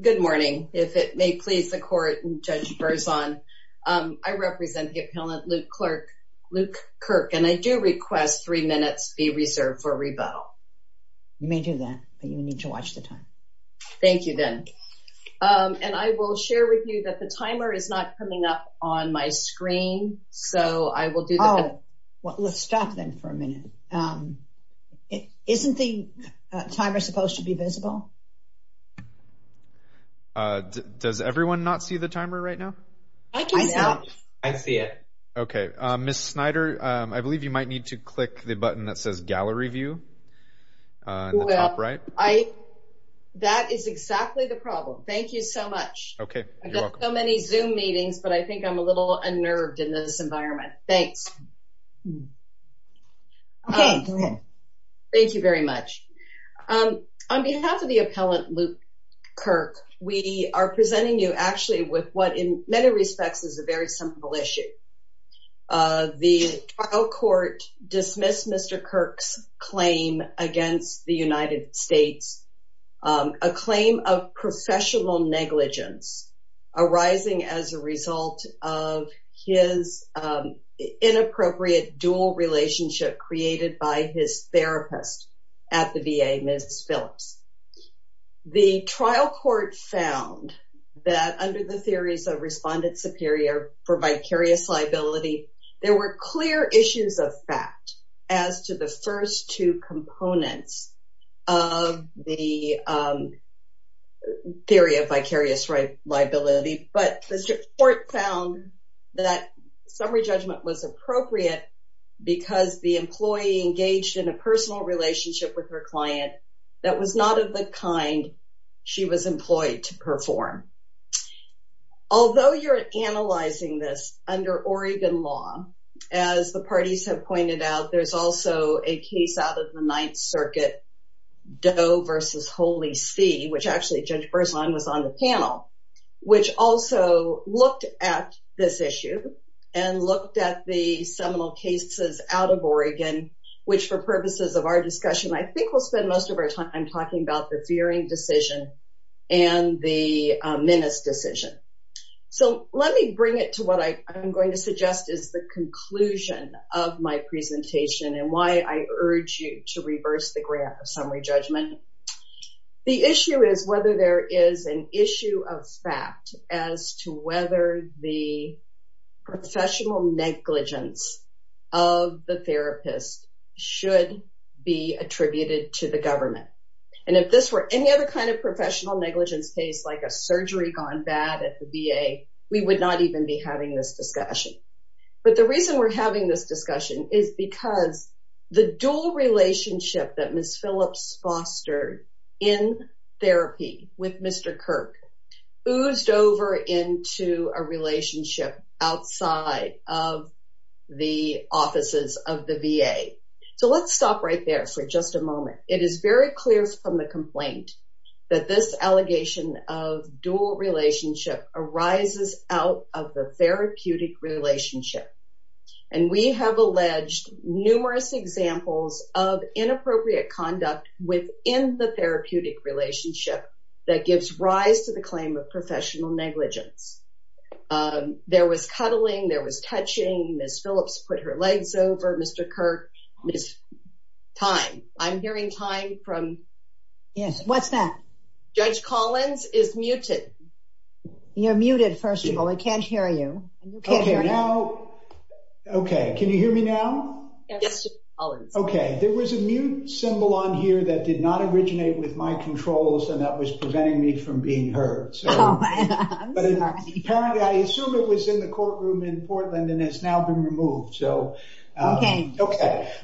Good morning. If it may please the court and Judge Berzon, I represent the appellant Luke Kirk and I do request three minutes be reserved for rebuttal. You may do that, but you need to watch the time. Thank you, then. And I will share with you that the timer is not coming up on my screen, so I will do that. Well, let's stop then for a minute. Isn't the timer supposed to be Does everyone not see the timer right now? I see it. Okay, Ms. Snyder, I believe you might need to click the button that says gallery view. Well, that is exactly the problem. Thank you so much. Okay. I've got so many Zoom meetings, but I think I'm a little unnerved in this environment. Thanks. Okay. Thank you very much. On behalf of the appellant Luke Kirk, we are presenting you actually with what in many respects is a very simple issue. The trial court dismissed Mr. Kirk's claim against the United States, a claim of professional negligence arising as a result of his inappropriate dual relationship created by his therapist at the VA, Ms. Phillips. The trial court found that under the theories of respondent superior for vicarious liability, there were clear issues of fact as to the first two components of the theory of vicarious liability, but the court found that summary judgment was appropriate because the employee engaged in a personal relationship with her client that was not of the kind she was employed to perform. Although you're analyzing this under Oregon law, as the parties have pointed out, there's also a case out of the Ninth Circuit, Doe versus Holy See, which actually Judge Berzon was on the panel, which also looked at this issue and looked at the cases out of Oregon, which for purposes of our discussion, I think we'll spend most of our time talking about the fearing decision and the menace decision. So let me bring it to what I'm going to suggest is the conclusion of my presentation and why I urge you to reverse the grant of summary judgment. The issue is whether there is an issue of fact as to whether the professional negligence of the therapist should be attributed to the government. And if this were any other kind of professional negligence case, like a surgery gone bad at the VA, we would not even be having this discussion. But the reason we're having this discussion is because the dual relationship that Ms. Phillips fostered in therapy with Mr. Kirk oozed over into a relationship outside of the offices of the VA. So let's stop right there for just a moment. It is very clear from the complaint that this allegation of dual relationship arises out of the therapeutic relationship. And we have alleged numerous examples of within the therapeutic relationship that gives rise to the claim of professional negligence. There was cuddling, there was touching, Ms. Phillips put her legs over Mr. Kirk, Ms. Thyme. I'm hearing Thyme from... Yes, what's that? Judge Collins is muted. You're muted, first of all, I can't hear you. Okay, can you hear me now? Yes, Judge Collins. Okay, there was a mute symbol on here that did not originate with my controls, and that was preventing me from being heard. I'm sorry. Apparently, I assume it was in the courtroom in Portland and has now been removed. Okay.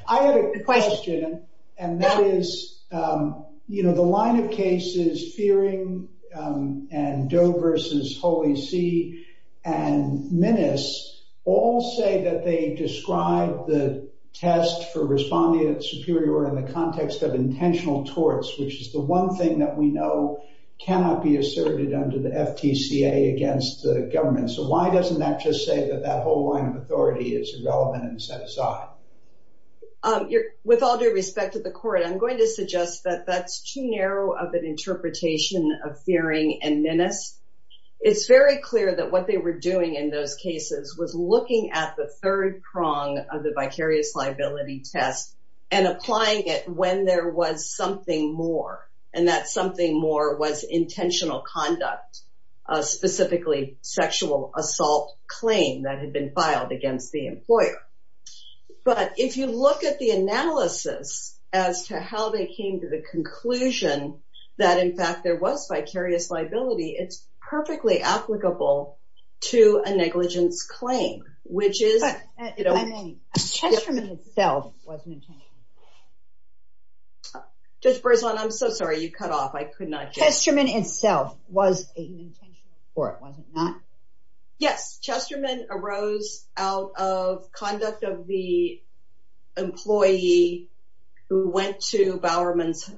I have a question. And that is, you know, the line of cases Fearing and Doe versus Holy See and Minnis all say that they describe the test for responding at superior in the context of intentional torts, which is the one thing that we know cannot be asserted under the FTCA against the government. So why doesn't that just say that that whole line of authority is irrelevant and set aside? With all due respect to the court, I'm going to suggest that that's too narrow of an It's very clear that what they were doing in those cases was looking at the third prong of the vicarious liability test and applying it when there was something more, and that something more was intentional conduct, specifically sexual assault claim that had been filed against the employer. But if you look at the analysis as to how they came to the conclusion that, in fact, there was vicarious liability, it's perfectly applicable to a negligence claim, which is Chesterman itself was an intention. Judge Breslin, I'm so sorry, you cut off. I could not Chesterman itself was an intention for it, was it not? Yes, Chesterman arose out of conduct of the employee who went to Bowerman's,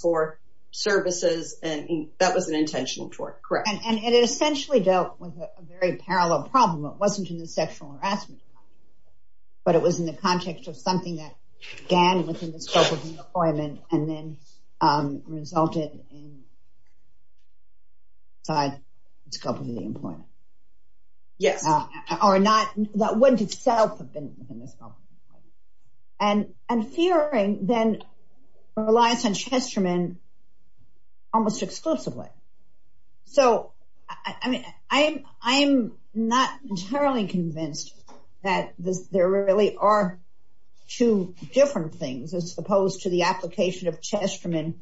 for services, and that was an intentional tort. Correct. And it essentially dealt with a very parallel problem. It wasn't in the sexual harassment, but it was in the context of something that began within the scope of the employment and then resulted in the scope of the employment. Yes. Or not, that wouldn't itself have been in this problem. And fearing then relies on Chesterman almost exclusively. So, I mean, I'm not entirely convinced that there really are two different things as opposed to the application of Chesterman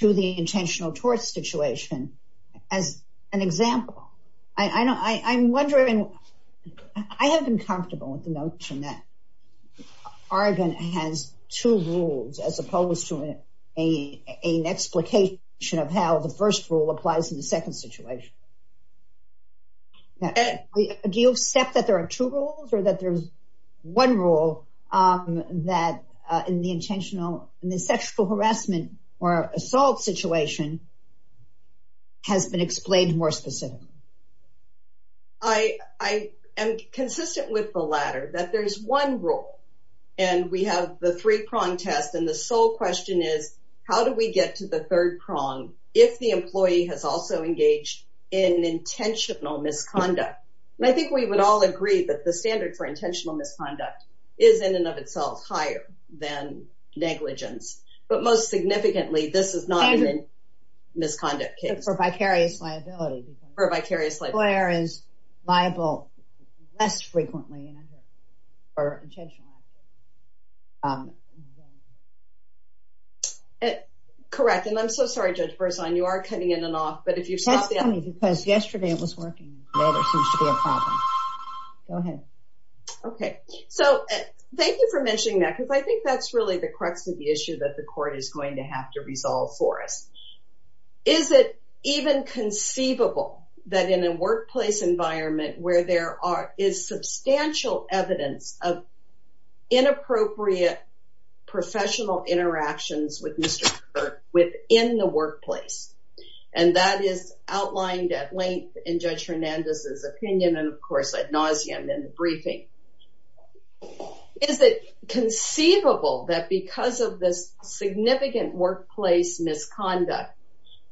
to the intentional tort situation as an example. I'm wondering, I have been comfortable with the notion that Oregon has two rules as opposed to an explication of how the first rule applies in the second situation. Do you accept that there are two rules or that there's one rule that in the intentional, in the sexual harassment or assault situation has been explained more specifically? I am consistent with the latter, that there's one rule and we have the three-prong test and the sole question is, how do we get to the third prong if the employee has also engaged in intentional misconduct? And I think we would all agree that the standard for intentional misconduct is in and of itself higher than negligence. But most significantly, this is not misconduct case. For vicarious liability. For vicarious liability. Where is liable less frequently. Correct. And I'm so sorry, Judge Berzon, you are cutting in and off, but if you stop. That's funny because yesterday it was working. Go ahead. Okay. So, thank you for mentioning that because I think that's really the crux of the issue that the court is going to have to resolve for us. Is it even conceivable that in a workplace environment where there is substantial evidence of inappropriate professional interactions with Mr. Kirk within the workplace? And that is outlined at length in Judge Hernandez's opinion and of course ad nauseum in the briefing. Is it conceivable that because of this significant workplace misconduct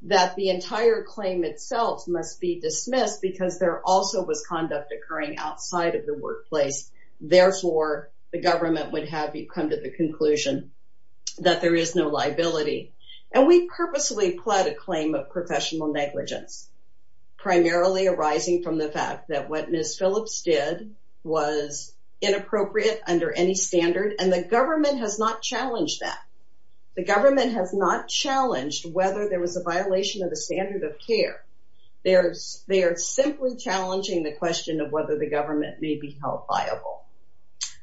that the entire claim itself must be dismissed because there also was conduct occurring outside of the workplace? Therefore, the government would have you come to the conclusion that there is no liability. And we purposely pled a claim of professional negligence. Primarily arising from the fact that Ms. Phillips did was inappropriate under any standard and the government has not challenged that. The government has not challenged whether there was a violation of the standard of care. They are simply challenging the question of whether the government may be held viable.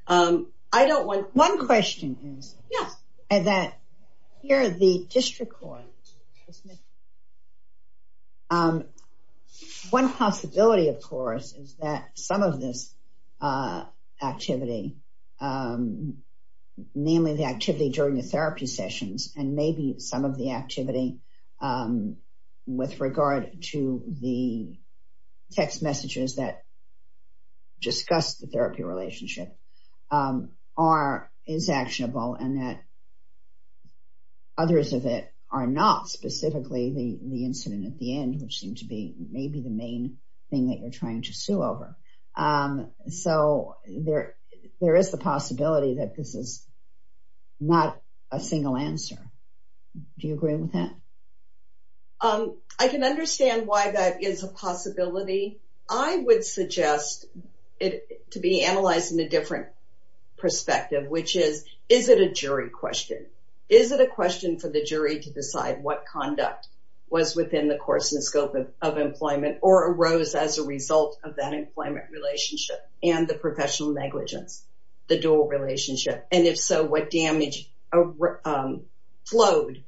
I don't want. One question is. Yes. And that here the district court dismissed. One possibility, of course, is that some of this activity, namely the activity during the therapy sessions, and maybe some of the activity with regard to the text messages that discuss the therapy relationship are is actionable and that specifically the incident at the end, which seemed to be maybe the main thing that you're trying to sue over. So there there is the possibility that this is not a single answer. Do you agree with that? I can understand why that is a possibility. I would suggest it to be analyzed in a different perspective, which is, is it a jury question? Is it a question for the jury to decide what conduct was within the course and scope of employment or arose as a result of that employment relationship and the professional negligence, the dual relationship? And if so, what damage flowed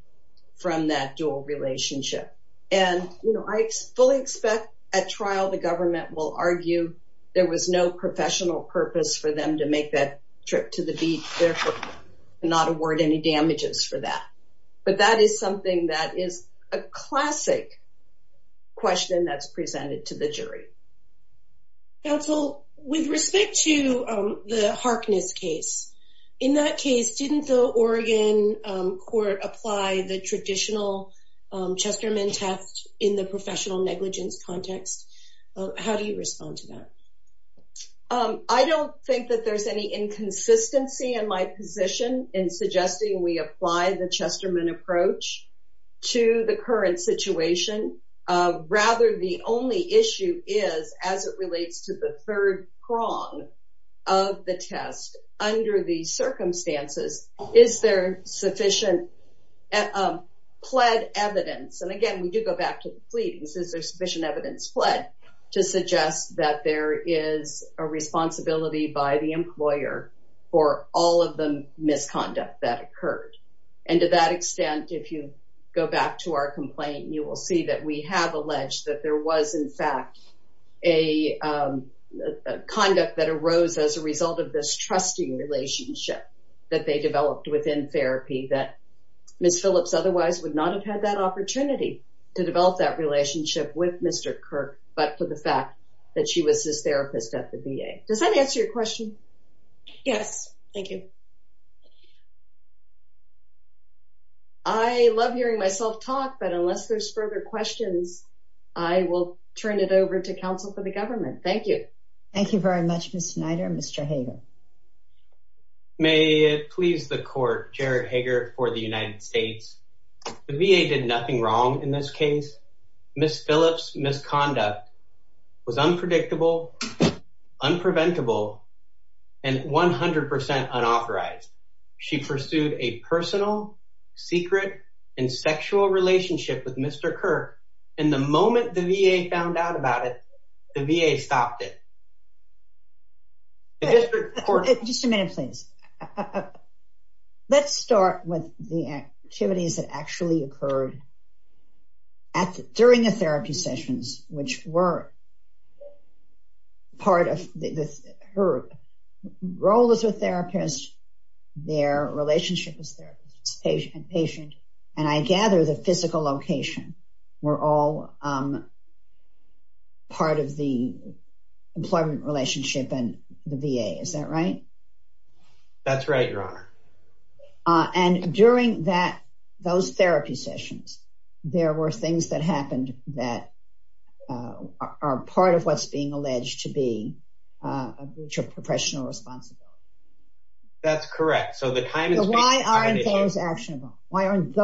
from that dual relationship? And I fully expect at trial, the government will argue there was no professional purpose for them to make that trip to the beach, therefore not award any damages for that. But that is something that is a classic question that's presented to the jury. Counsel, with respect to the Harkness case, in that case, didn't the Oregon court apply the traditional Chesterman test in the professional negligence context? How do you respond to that? Um, I don't think that there's any inconsistency in my position in suggesting we apply the Chesterman approach to the current situation. Rather, the only issue is as it relates to the third prong of the test. Under these circumstances, is there sufficient pled evidence? And again, we do go back to the fleets. Is there sufficient evidence pled to suggest that there is a responsibility by the employer for all of the misconduct that occurred? And to that extent, if you go back to our complaint, you will see that we have alleged that there was in fact a conduct that arose as a result of this trusting relationship that they developed within therapy that Miss Phillips otherwise would not have had that for the fact that she was his therapist at the VA. Does that answer your question? Yes, thank you. I love hearing myself talk, but unless there's further questions, I will turn it over to counsel for the government. Thank you. Thank you very much, Ms. Snyder. Mr. Hager. May it please the court, Jared Hager for the United States. The VA did nothing wrong in this was unpredictable, unpreventable, and 100% unauthorized. She pursued a personal, secret, and sexual relationship with Mr. Kirk. And the moment the VA found out about it, the VA stopped it. Just a minute, please. Let's start with the activities that actually occurred at during the therapy sessions, which were part of her role as a therapist, their relationship as therapist and patient. And I gather the physical location were all part of the employment relationship and the VA. Is that right? That's right, Your Honor. Uh, and during that, those therapy sessions, there were things that happened that, uh, are part of what's being alleged to be, uh, a breach of professional responsibility. That's correct. So the time is why are those actionable? Why aren't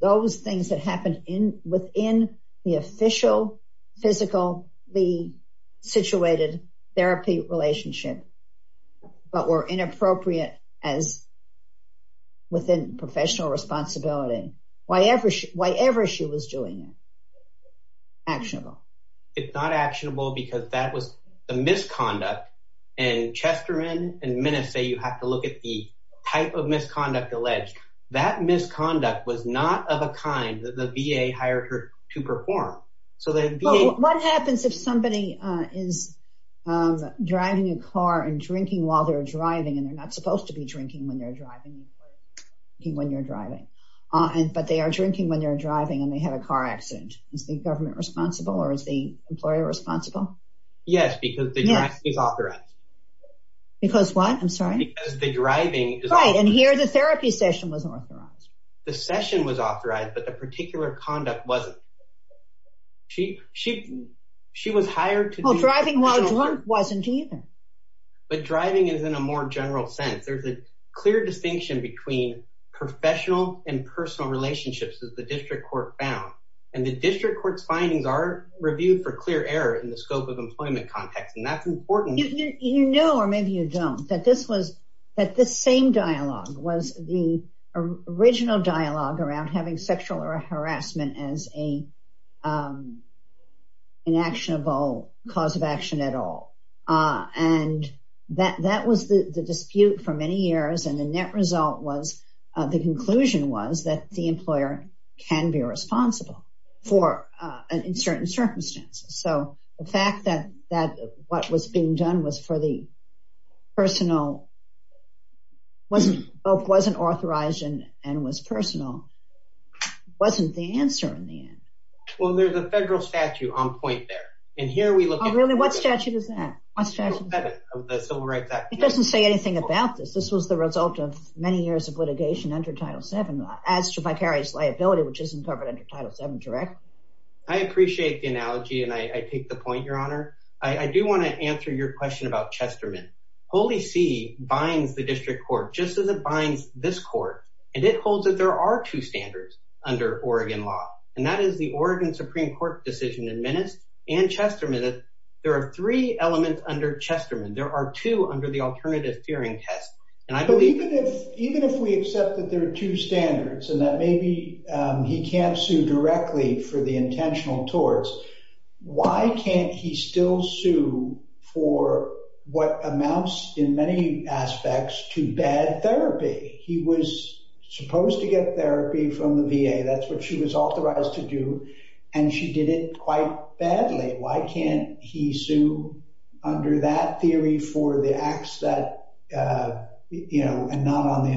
those things that happened in within the official, physical, the situated therapy relationship, but were inappropriate as within professional responsibility? Why ever, why ever she was doing it? Actionable. It's not actionable because that was a misconduct. And Chester and minutes, say you have to look at the type of misconduct alleged that misconduct was not of a kind that the VA hired her to perform. So what happens if somebody is driving a car and drinking while they're driving and they're not supposed to be drinking when they're driving when you're driving, but they are drinking when they're driving and they had a car accident. Is the government responsible or is the employer responsible? Yes, because the drive is authorized. Because what? I'm sorry. The driving is right. And here the therapy session was authorized. The session was authorized, but the particular conduct wasn't. She, she, she was hired to driving while drunk wasn't even, but driving is in a more general sense. There's a clear distinction between professional and personal relationships as the district court found. And the district court's findings are reviewed for clear error in the scope of employment context. And that's important, you know, or maybe you don't that this was at the same dialogue was the original dialogue around having sexual harassment as a, um, an actionable cause of action at all. Uh, and that, that was the dispute for many years. And the net result was, uh, the conclusion was that the employer can be responsible for, uh, in certain circumstances. So the fact that, that what was being done was for the personal wasn't, wasn't authorized and, and was personal wasn't the answer in the end. Well, there's a federal statute on point there. And here we look at really what statute is that? It doesn't say anything about this. This was the result of many years of litigation under title seven as to vicarious liability, which isn't covered under title seven. Direct. I appreciate the analogy. And I take the point, your honor. I do want to answer your question about Chesterman. Holy see binds the district court, just as it binds this court. And it holds that there are two standards under Oregon law. And that is the Oregon Supreme court decision in minutes and Chester minutes. There are three elements under Chesterman. There are two under the alternative fearing test. And I believe that even if we accept that there are two standards and that maybe, um, he can't sue directly for intentional towards, why can't he still sue for what amounts in many aspects to bad therapy? He was supposed to get therapy from the VA. That's what she was authorized to do. And she did it quite badly. Why can't he sue under that theory for the acts that, uh, you know, and not on the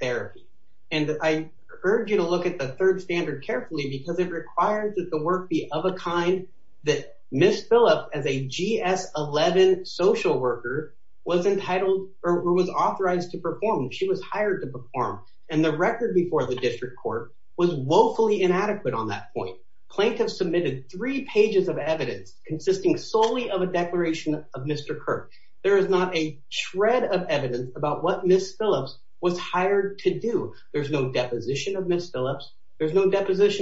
therapy. And I urge you to look at the third standard carefully because it requires that the work be of a kind that Ms. Phillip as a G S 11 social worker was entitled or was authorized to perform. She was hired to perform. And the record before the district court was woefully inadequate. On that point, plaintiffs submitted three pages of evidence consisting solely of a There's no deposition of Ms. Phillips. There's no deposition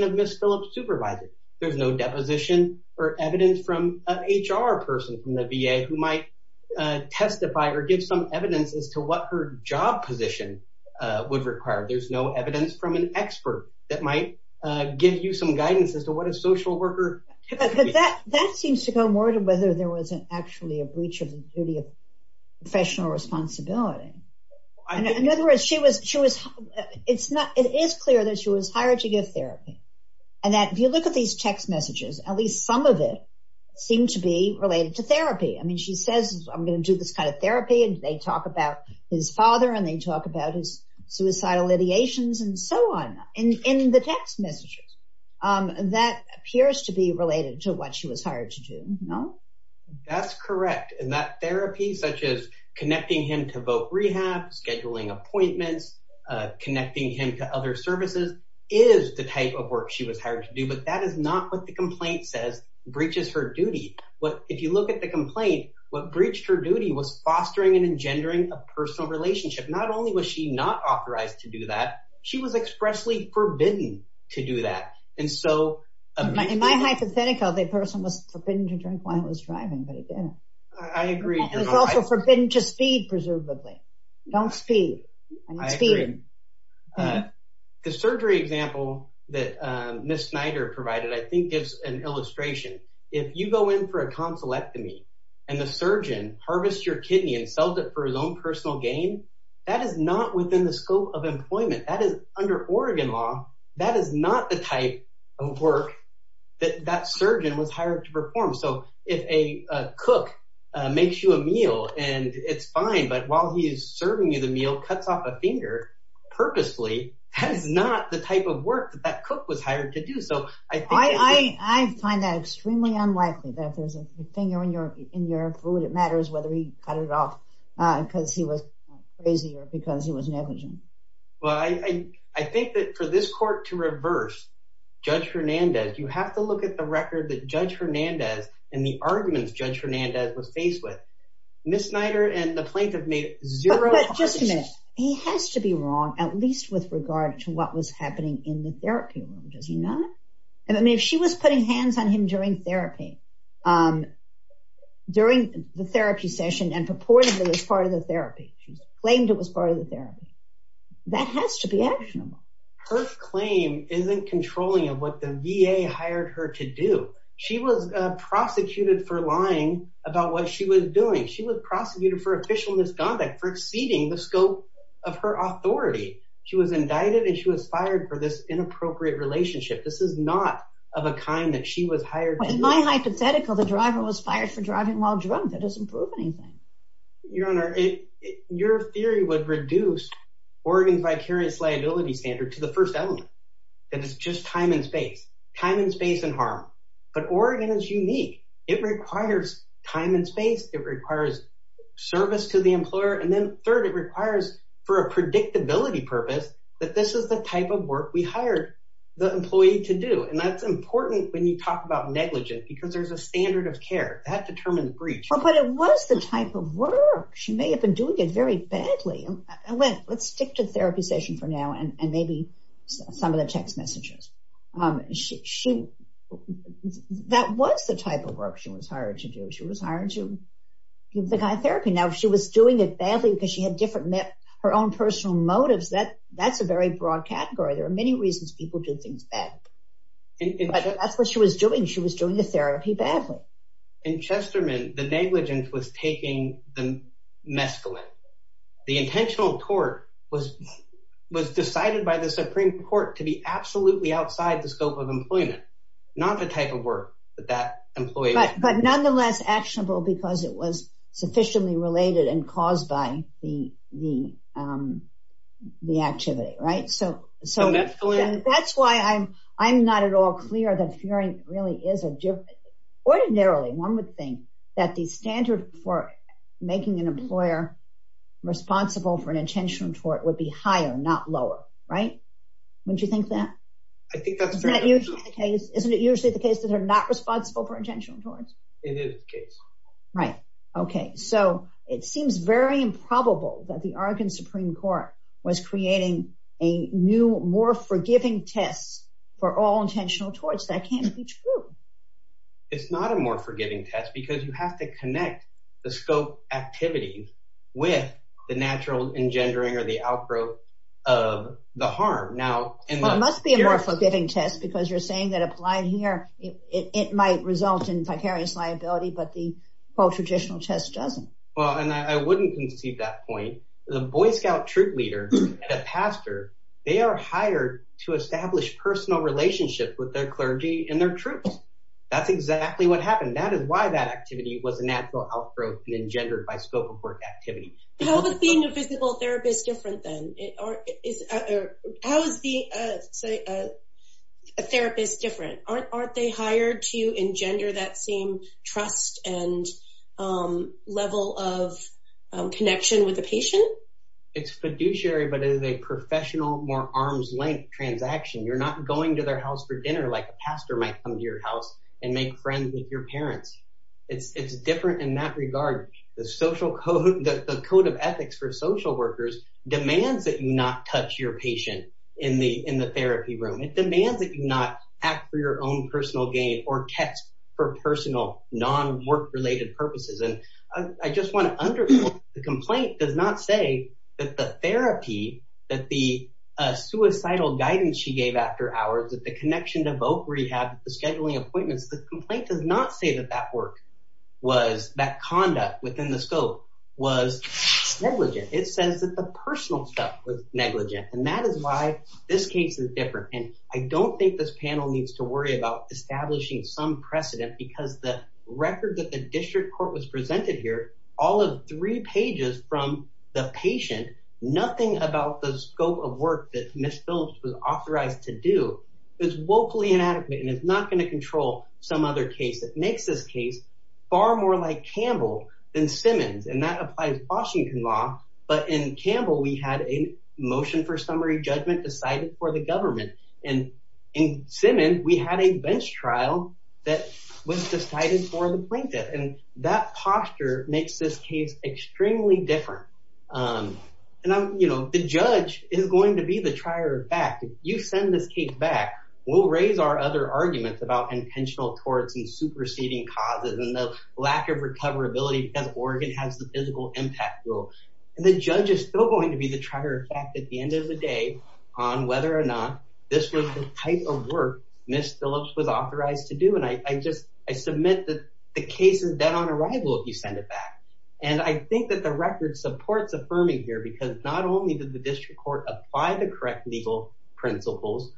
of Ms. Phillip supervising. There's no deposition or evidence from an HR person from the VA who might, uh, testify or give some evidence as to what her job position, uh, would require. There's no evidence from an expert that might, uh, give you some guidance as to what a social worker. That seems to go more to whether there wasn't actually a breach of the duty of It's not. It is clear that she was hired to give therapy. And that if you look at these text messages, at least some of it seemed to be related to therapy. I mean, she says, I'm going to do this kind of therapy. And they talk about his father and they talk about his suicidal ideations and so on in the text messages. Um, that appears to be related to what she was hired to do. No, that's correct. And that therapy, such as connecting him to voc rehab, scheduling appointments, uh, connecting him to other services is the type of work she was hired to do. But that is not what the complaint says breaches her duty. What, if you look at the complaint, what breached her duty was fostering and engendering a personal relationship. Not only was she not authorized to do that, she was expressly forbidden to do that. And so In my hypothetical, the person was forbidden to drink while he was driving, but he didn't. I agree. It was also forbidden to speed, presumably don't speed. The surgery example that, um, Ms. Snyder provided, I think gives an illustration. If you go in for a consulectomy and the surgeon harvest your kidney and sells it for his own personal gain, that is not within the scope of employment that is under Oregon law. That is not the type of work that that surgeon was hired to perform. So if a cook makes you a meal and it's fine, but while he is serving you, the meal cuts off a finger purposely, that is not the type of work that that cook was hired to do. So I think I find that extremely unlikely that there's a finger in your, in your food. It matters whether he cut it off, uh, cause he was crazy or because it was negligent. Well, I, I think that for this court to reverse judge Hernandez, you have to look at the record that judge Hernandez and the arguments judge Hernandez was faced with Ms. Snyder and the plaintiff made zero. He has to be wrong, at least with regard to what was happening in the therapy room. Does he not? And I mean, if she was putting hands on him during therapy, um, during the therapy session and purportedly as part of the therapy, she's claimed it was part of the therapy that has to be actionable. Her claim isn't controlling of what the VA hired her to do. She was prosecuted for lying about what she was doing. She was prosecuted for official misconduct for exceeding the scope of her authority. She was indicted and she was fired for this inappropriate relationship. This is not of a kind that she was hired. In my hypothetical, the driver was fired for driving while drunk. That doesn't prove anything. Your honor, your theory would reduce Oregon's vicarious liability standard to the first element, that it's just time and space, time and space and harm. But Oregon is unique. It requires time and space. It requires service to the employer. And then third, it requires for a predictability purpose that this is the type of work we hired the employee to do. And that's important when you talk about negligence, because there's a standard of care that determined breach. But it was the type of work. She may have been doing it very badly. Let's stick to therapy session for now and maybe some of the text messages. That was the type of work she was hired to do. She was hired to give the guy therapy. Now, if she was doing it badly because she had different, her own personal motives, that's a very broad category. There are many reasons people do things bad. But that's what she was doing. She was doing the therapy badly. In Chesterman, the negligence was taking the mescaline. The intentional tort was decided by the Supreme Court to be absolutely outside the scope of employment, not the type of work that that employee was doing. But nonetheless, actionable because it was sufficiently related and caused by the activity, right? So that's why I'm not at all clear that fearing really is a different. Ordinarily, one would think that the standard for making an employer responsible for an intentional tort would be higher, not lower, right? Would you think that? I think that's usually the case. Isn't it usually the case that they're not responsible for intentional torts? It is the case. Right. Okay. So it seems very improbable that the Oregon Supreme Court was creating a new, forgiving test for all intentional torts. That can't be true. It's not a more forgiving test because you have to connect the scope activity with the natural engendering or the outgrowth of the harm. Now, it must be a more forgiving test because you're saying that applying here, it might result in vicarious liability, but the full traditional test doesn't. Well, and I wouldn't conceive that point. The Boy Scout troop leader and a pastor, they are hired to establish personal relationships with their clergy and their troops. That's exactly what happened. That is why that activity was a natural outgrowth and engendered by scope of work activity. How is being a physical therapist different then? How is being a therapist different? Aren't they hired to engender that same trust and level of connection with the patient? It's fiduciary, but it is a professional, more arm's length transaction. You're not going to their house for dinner like a pastor might come to your house and make friends with your parents. It's different in that regard. The social code, the code of ethics for social workers demands that you not touch your patient in the therapy room. It demands that you not act for your own personal gain or test for personal non-work related purposes. I just want to underline, the complaint does not say that the therapy, that the suicidal guidance she gave after hours, that the connection to voc rehab, the scheduling appointments, the complaint does not say that that work, that conduct within the scope was negligent. It says that the personal stuff was negligent. That is why this case is different. I don't think this panel needs to worry about establishing some precedent because the record that the presented here, all of three pages from the patient, nothing about the scope of work that Ms. Phillips was authorized to do is vocally inadequate and is not going to control some other case that makes this case far more like Campbell than Simmons. That applies to Washington law, but in Campbell, we had a motion for summary judgment decided for the government. In Simmons, we had a bench trial that was decided for the plaintiff and that posture makes this case extremely different. The judge is going to be the trier of fact. If you send this case back, we'll raise our other arguments about intentional torts and superseding causes and the lack of recoverability as Oregon has the physical impact rule. The judge is still going to be the trier of fact at the end of the day on whether or not this was the type of work Ms. Phillips was authorized to do. I submit that the case is dead on arrival if you send it back. I think that the record supports affirming here because not only did the district court apply the correct legal principles,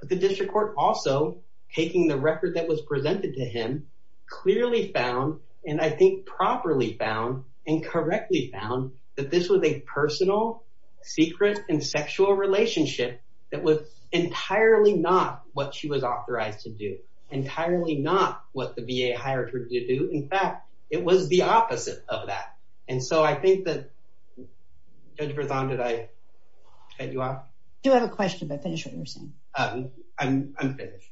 but the district court also, taking the record that was presented to him, clearly found and I think properly found and correctly found that this was a personal, secret, and sexual relationship that was entirely not what she was authorized to do. Entirely not what the VA hired her to do. In fact, it was the opposite of that. I think that Judge Berzon, did I cut you off? I do have a question, but finish what you're saying. I'm finished.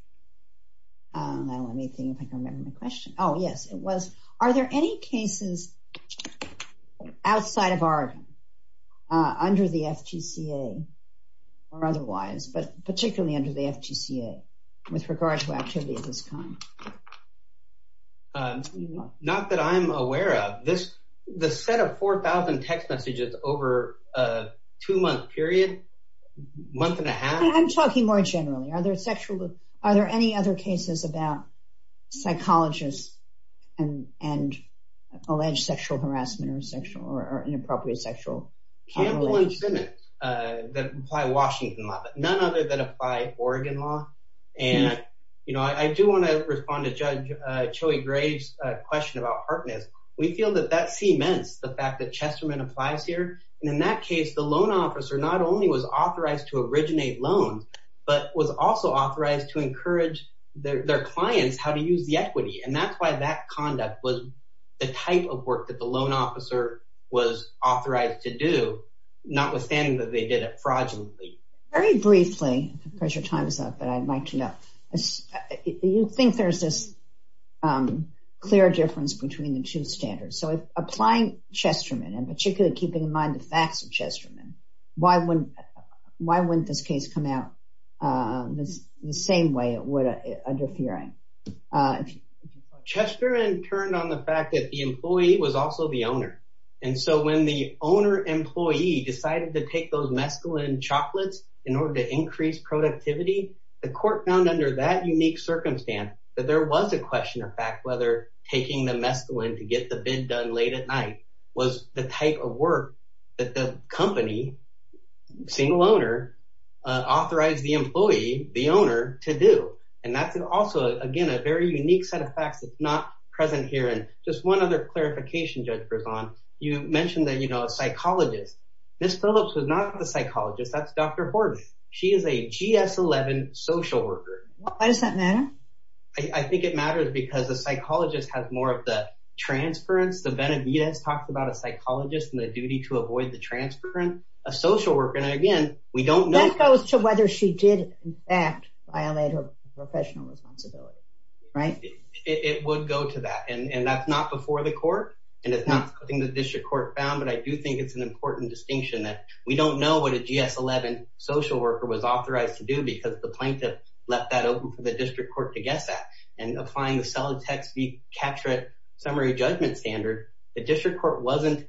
I don't want anything if I don't remember the question. Oh yes, it was. Are there any cases outside of Oregon under the FGCA or otherwise, but particularly under the FGCA with regard to activity of this kind? Not that I'm aware of. The set of 4,000 text messages over a two-month period, a month and a half. I'm talking more generally. Are there any other cases about psychologists and alleged sexual harassment or sexual or inappropriate sexual- Campbell and Simmons that apply Washington law, but none other than apply Oregon law. I do want to respond to Judge Choey-Graves' question about partners. We feel that that applies here. In that case, the loan officer not only was authorized to originate loans, but was also authorized to encourage their clients how to use the equity. That's why that conduct was the type of work that the loan officer was authorized to do, notwithstanding that they did it fraudulently. Very briefly, because your time is up, but I'd like to know. Do you think there's this clear difference between the two standards? Applying Chesterman and particularly keeping in mind the facts of Chesterman, why wouldn't this case come out the same way it would under Fearing? Chesterman turned on the fact that the employee was also the owner. When the owner employee decided to take those mescaline chocolates in order to increase productivity, the court found under that unique circumstance that there was a question of fact whether taking the mescaline to get the bid done late at night was the type of work that the company, single owner, authorized the employee, the owner, to do. That's also, again, a very unique set of facts that's not present here. Just one other clarification, Judge Berzon. You mentioned that a psychologist. Ms. Phillips was not the psychologist. That's Dr. Horton. She is a GS-11 social worker. Why does that matter? I think it matters because a psychologist has more of the transference. Benavidez talked about a psychologist and the duty to avoid the transference. A social worker, and again, we don't know. That goes to whether she did violate her professional responsibility, right? It would go to that, and that's not before the court, and it's not something the district court found, but I do think it's an important distinction that we don't know what a GS-11 social worker was authorized to do because the plaintiff left that open for the district court to guess at, and applying the solid text summary judgment standard, the district court wasn't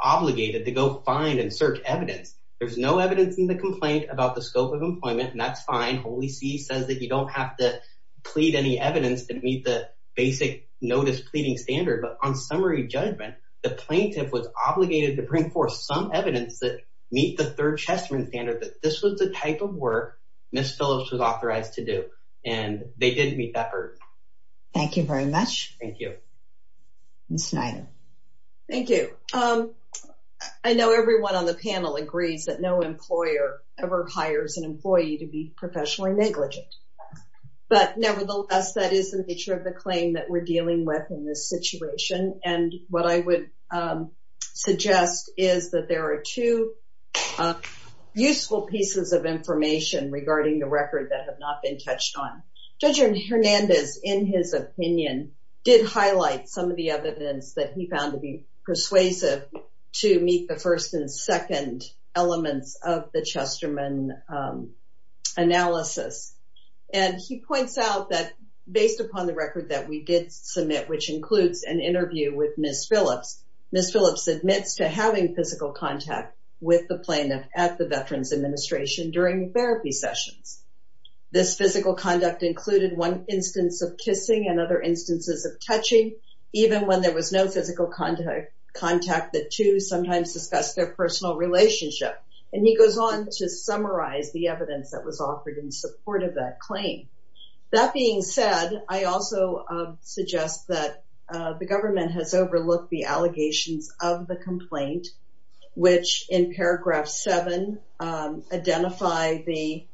obligated to go find and search evidence. There's no evidence in the complaint about the scope of employment, and that's fine. Holy See says that you don't have to plead any evidence to meet the basic notice pleading standard, but on summary judgment, the plaintiff was obligated to bring forth some evidence that meet the third Chessman standard, that this was the type of work Ms. Phillips was authorized to do, and they didn't meet that hurdle. Thank you very much. Thank you. Ms. Snyder. Thank you. I know everyone on the panel agrees that no employer ever hires an employee to be professionally negligent, but nevertheless, that is the nature of the claim that we're hearing. Useful pieces of information regarding the record that have not been touched on. Judge Hernandez, in his opinion, did highlight some of the evidence that he found to be persuasive to meet the first and second elements of the Chessman analysis, and he points out that based upon the record that we did submit, which includes an interview with Ms. Phillips, Ms. Phillips admits to having physical contact with the plaintiff at the Veterans Administration during therapy sessions. This physical conduct included one instance of kissing and other instances of touching, even when there was no physical contact, the two sometimes discussed their personal relationship, and he goes on to summarize the evidence that was offered in support of that claim. That being said, I also suggest that the government has overlooked the allegations of the complaint, which in paragraph seven identify the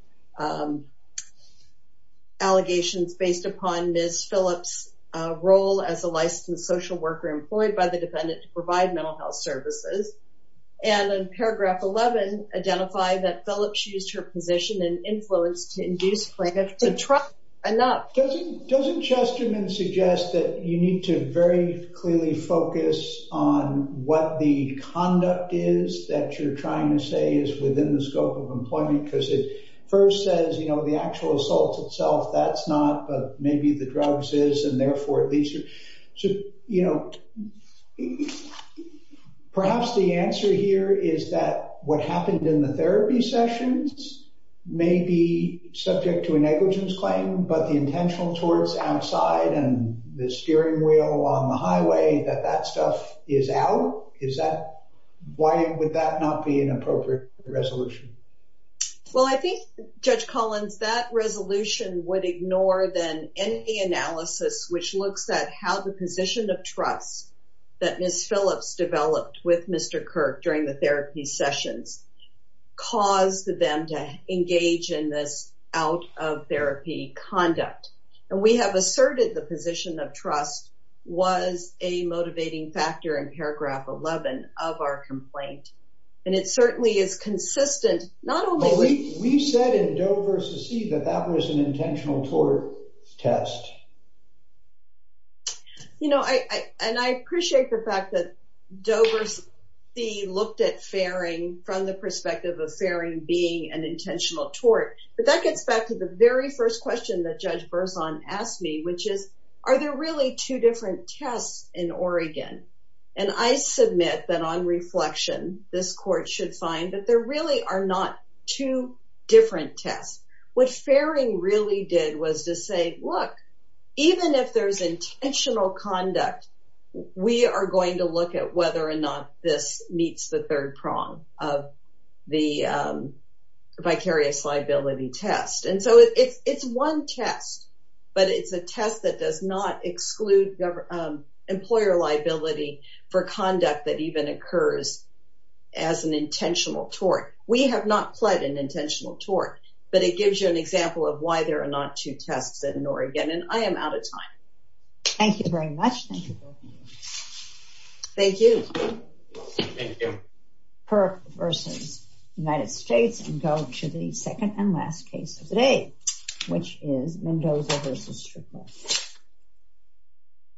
allegations based upon Ms. Phillips' role as a licensed social worker employed by the defendant to provide mental health services, and in paragraph 11, identify that Phillips used her position and influence to induce plaintiff to trust enough. Doesn't Chessman suggest that you need to very clearly focus on what the conduct is that you're trying to say is within the scope of employment, because it first says, you know, the actual assault itself, that's not, but maybe the drugs is, and therefore at least, you know, perhaps the answer here is that what happened in the therapy sessions may be subject to a negligence claim, but the intentional torts outside and the steering wheel on the highway, that that stuff is out? Is that, why would that not be an appropriate resolution? Well, I think, Judge Collins, that resolution would ignore then any analysis which looks at how the position of trust that Ms. Phillips developed with Mr. Kirk during the therapy sessions caused them to engage in this out of therapy conduct, and we have asserted the position of trust was a motivating factor in paragraph 11 of our complaint, and it certainly is consistent, not only... We said in Doe v. See that that was an intentional tort test. You know, and I appreciate the fact that Doe v. See looked at faring from the perspective of faring being an intentional tort, but that gets back to the very first question that Judge Berzon asked me, which is, are there really two different tests in Oregon? And I submit that on reflection, this court should find that there really are not two different tests. What faring really did was to say, look, even if there's intentional conduct, we are going to look at whether or not this meets the third prong of the vicarious liability test, and so it's one test, but it's a test that does not exclude employer liability for conduct that even occurs as an intentional tort. We have not pled an intentional tort, but it gives you an example of why there are not two tests in Oregon, and I am out of time. Thank you very much. Thank you. Thank you. Thank you. Perk v. United States, and go to the second and last case of the day, which is Mendoza v. Strickland.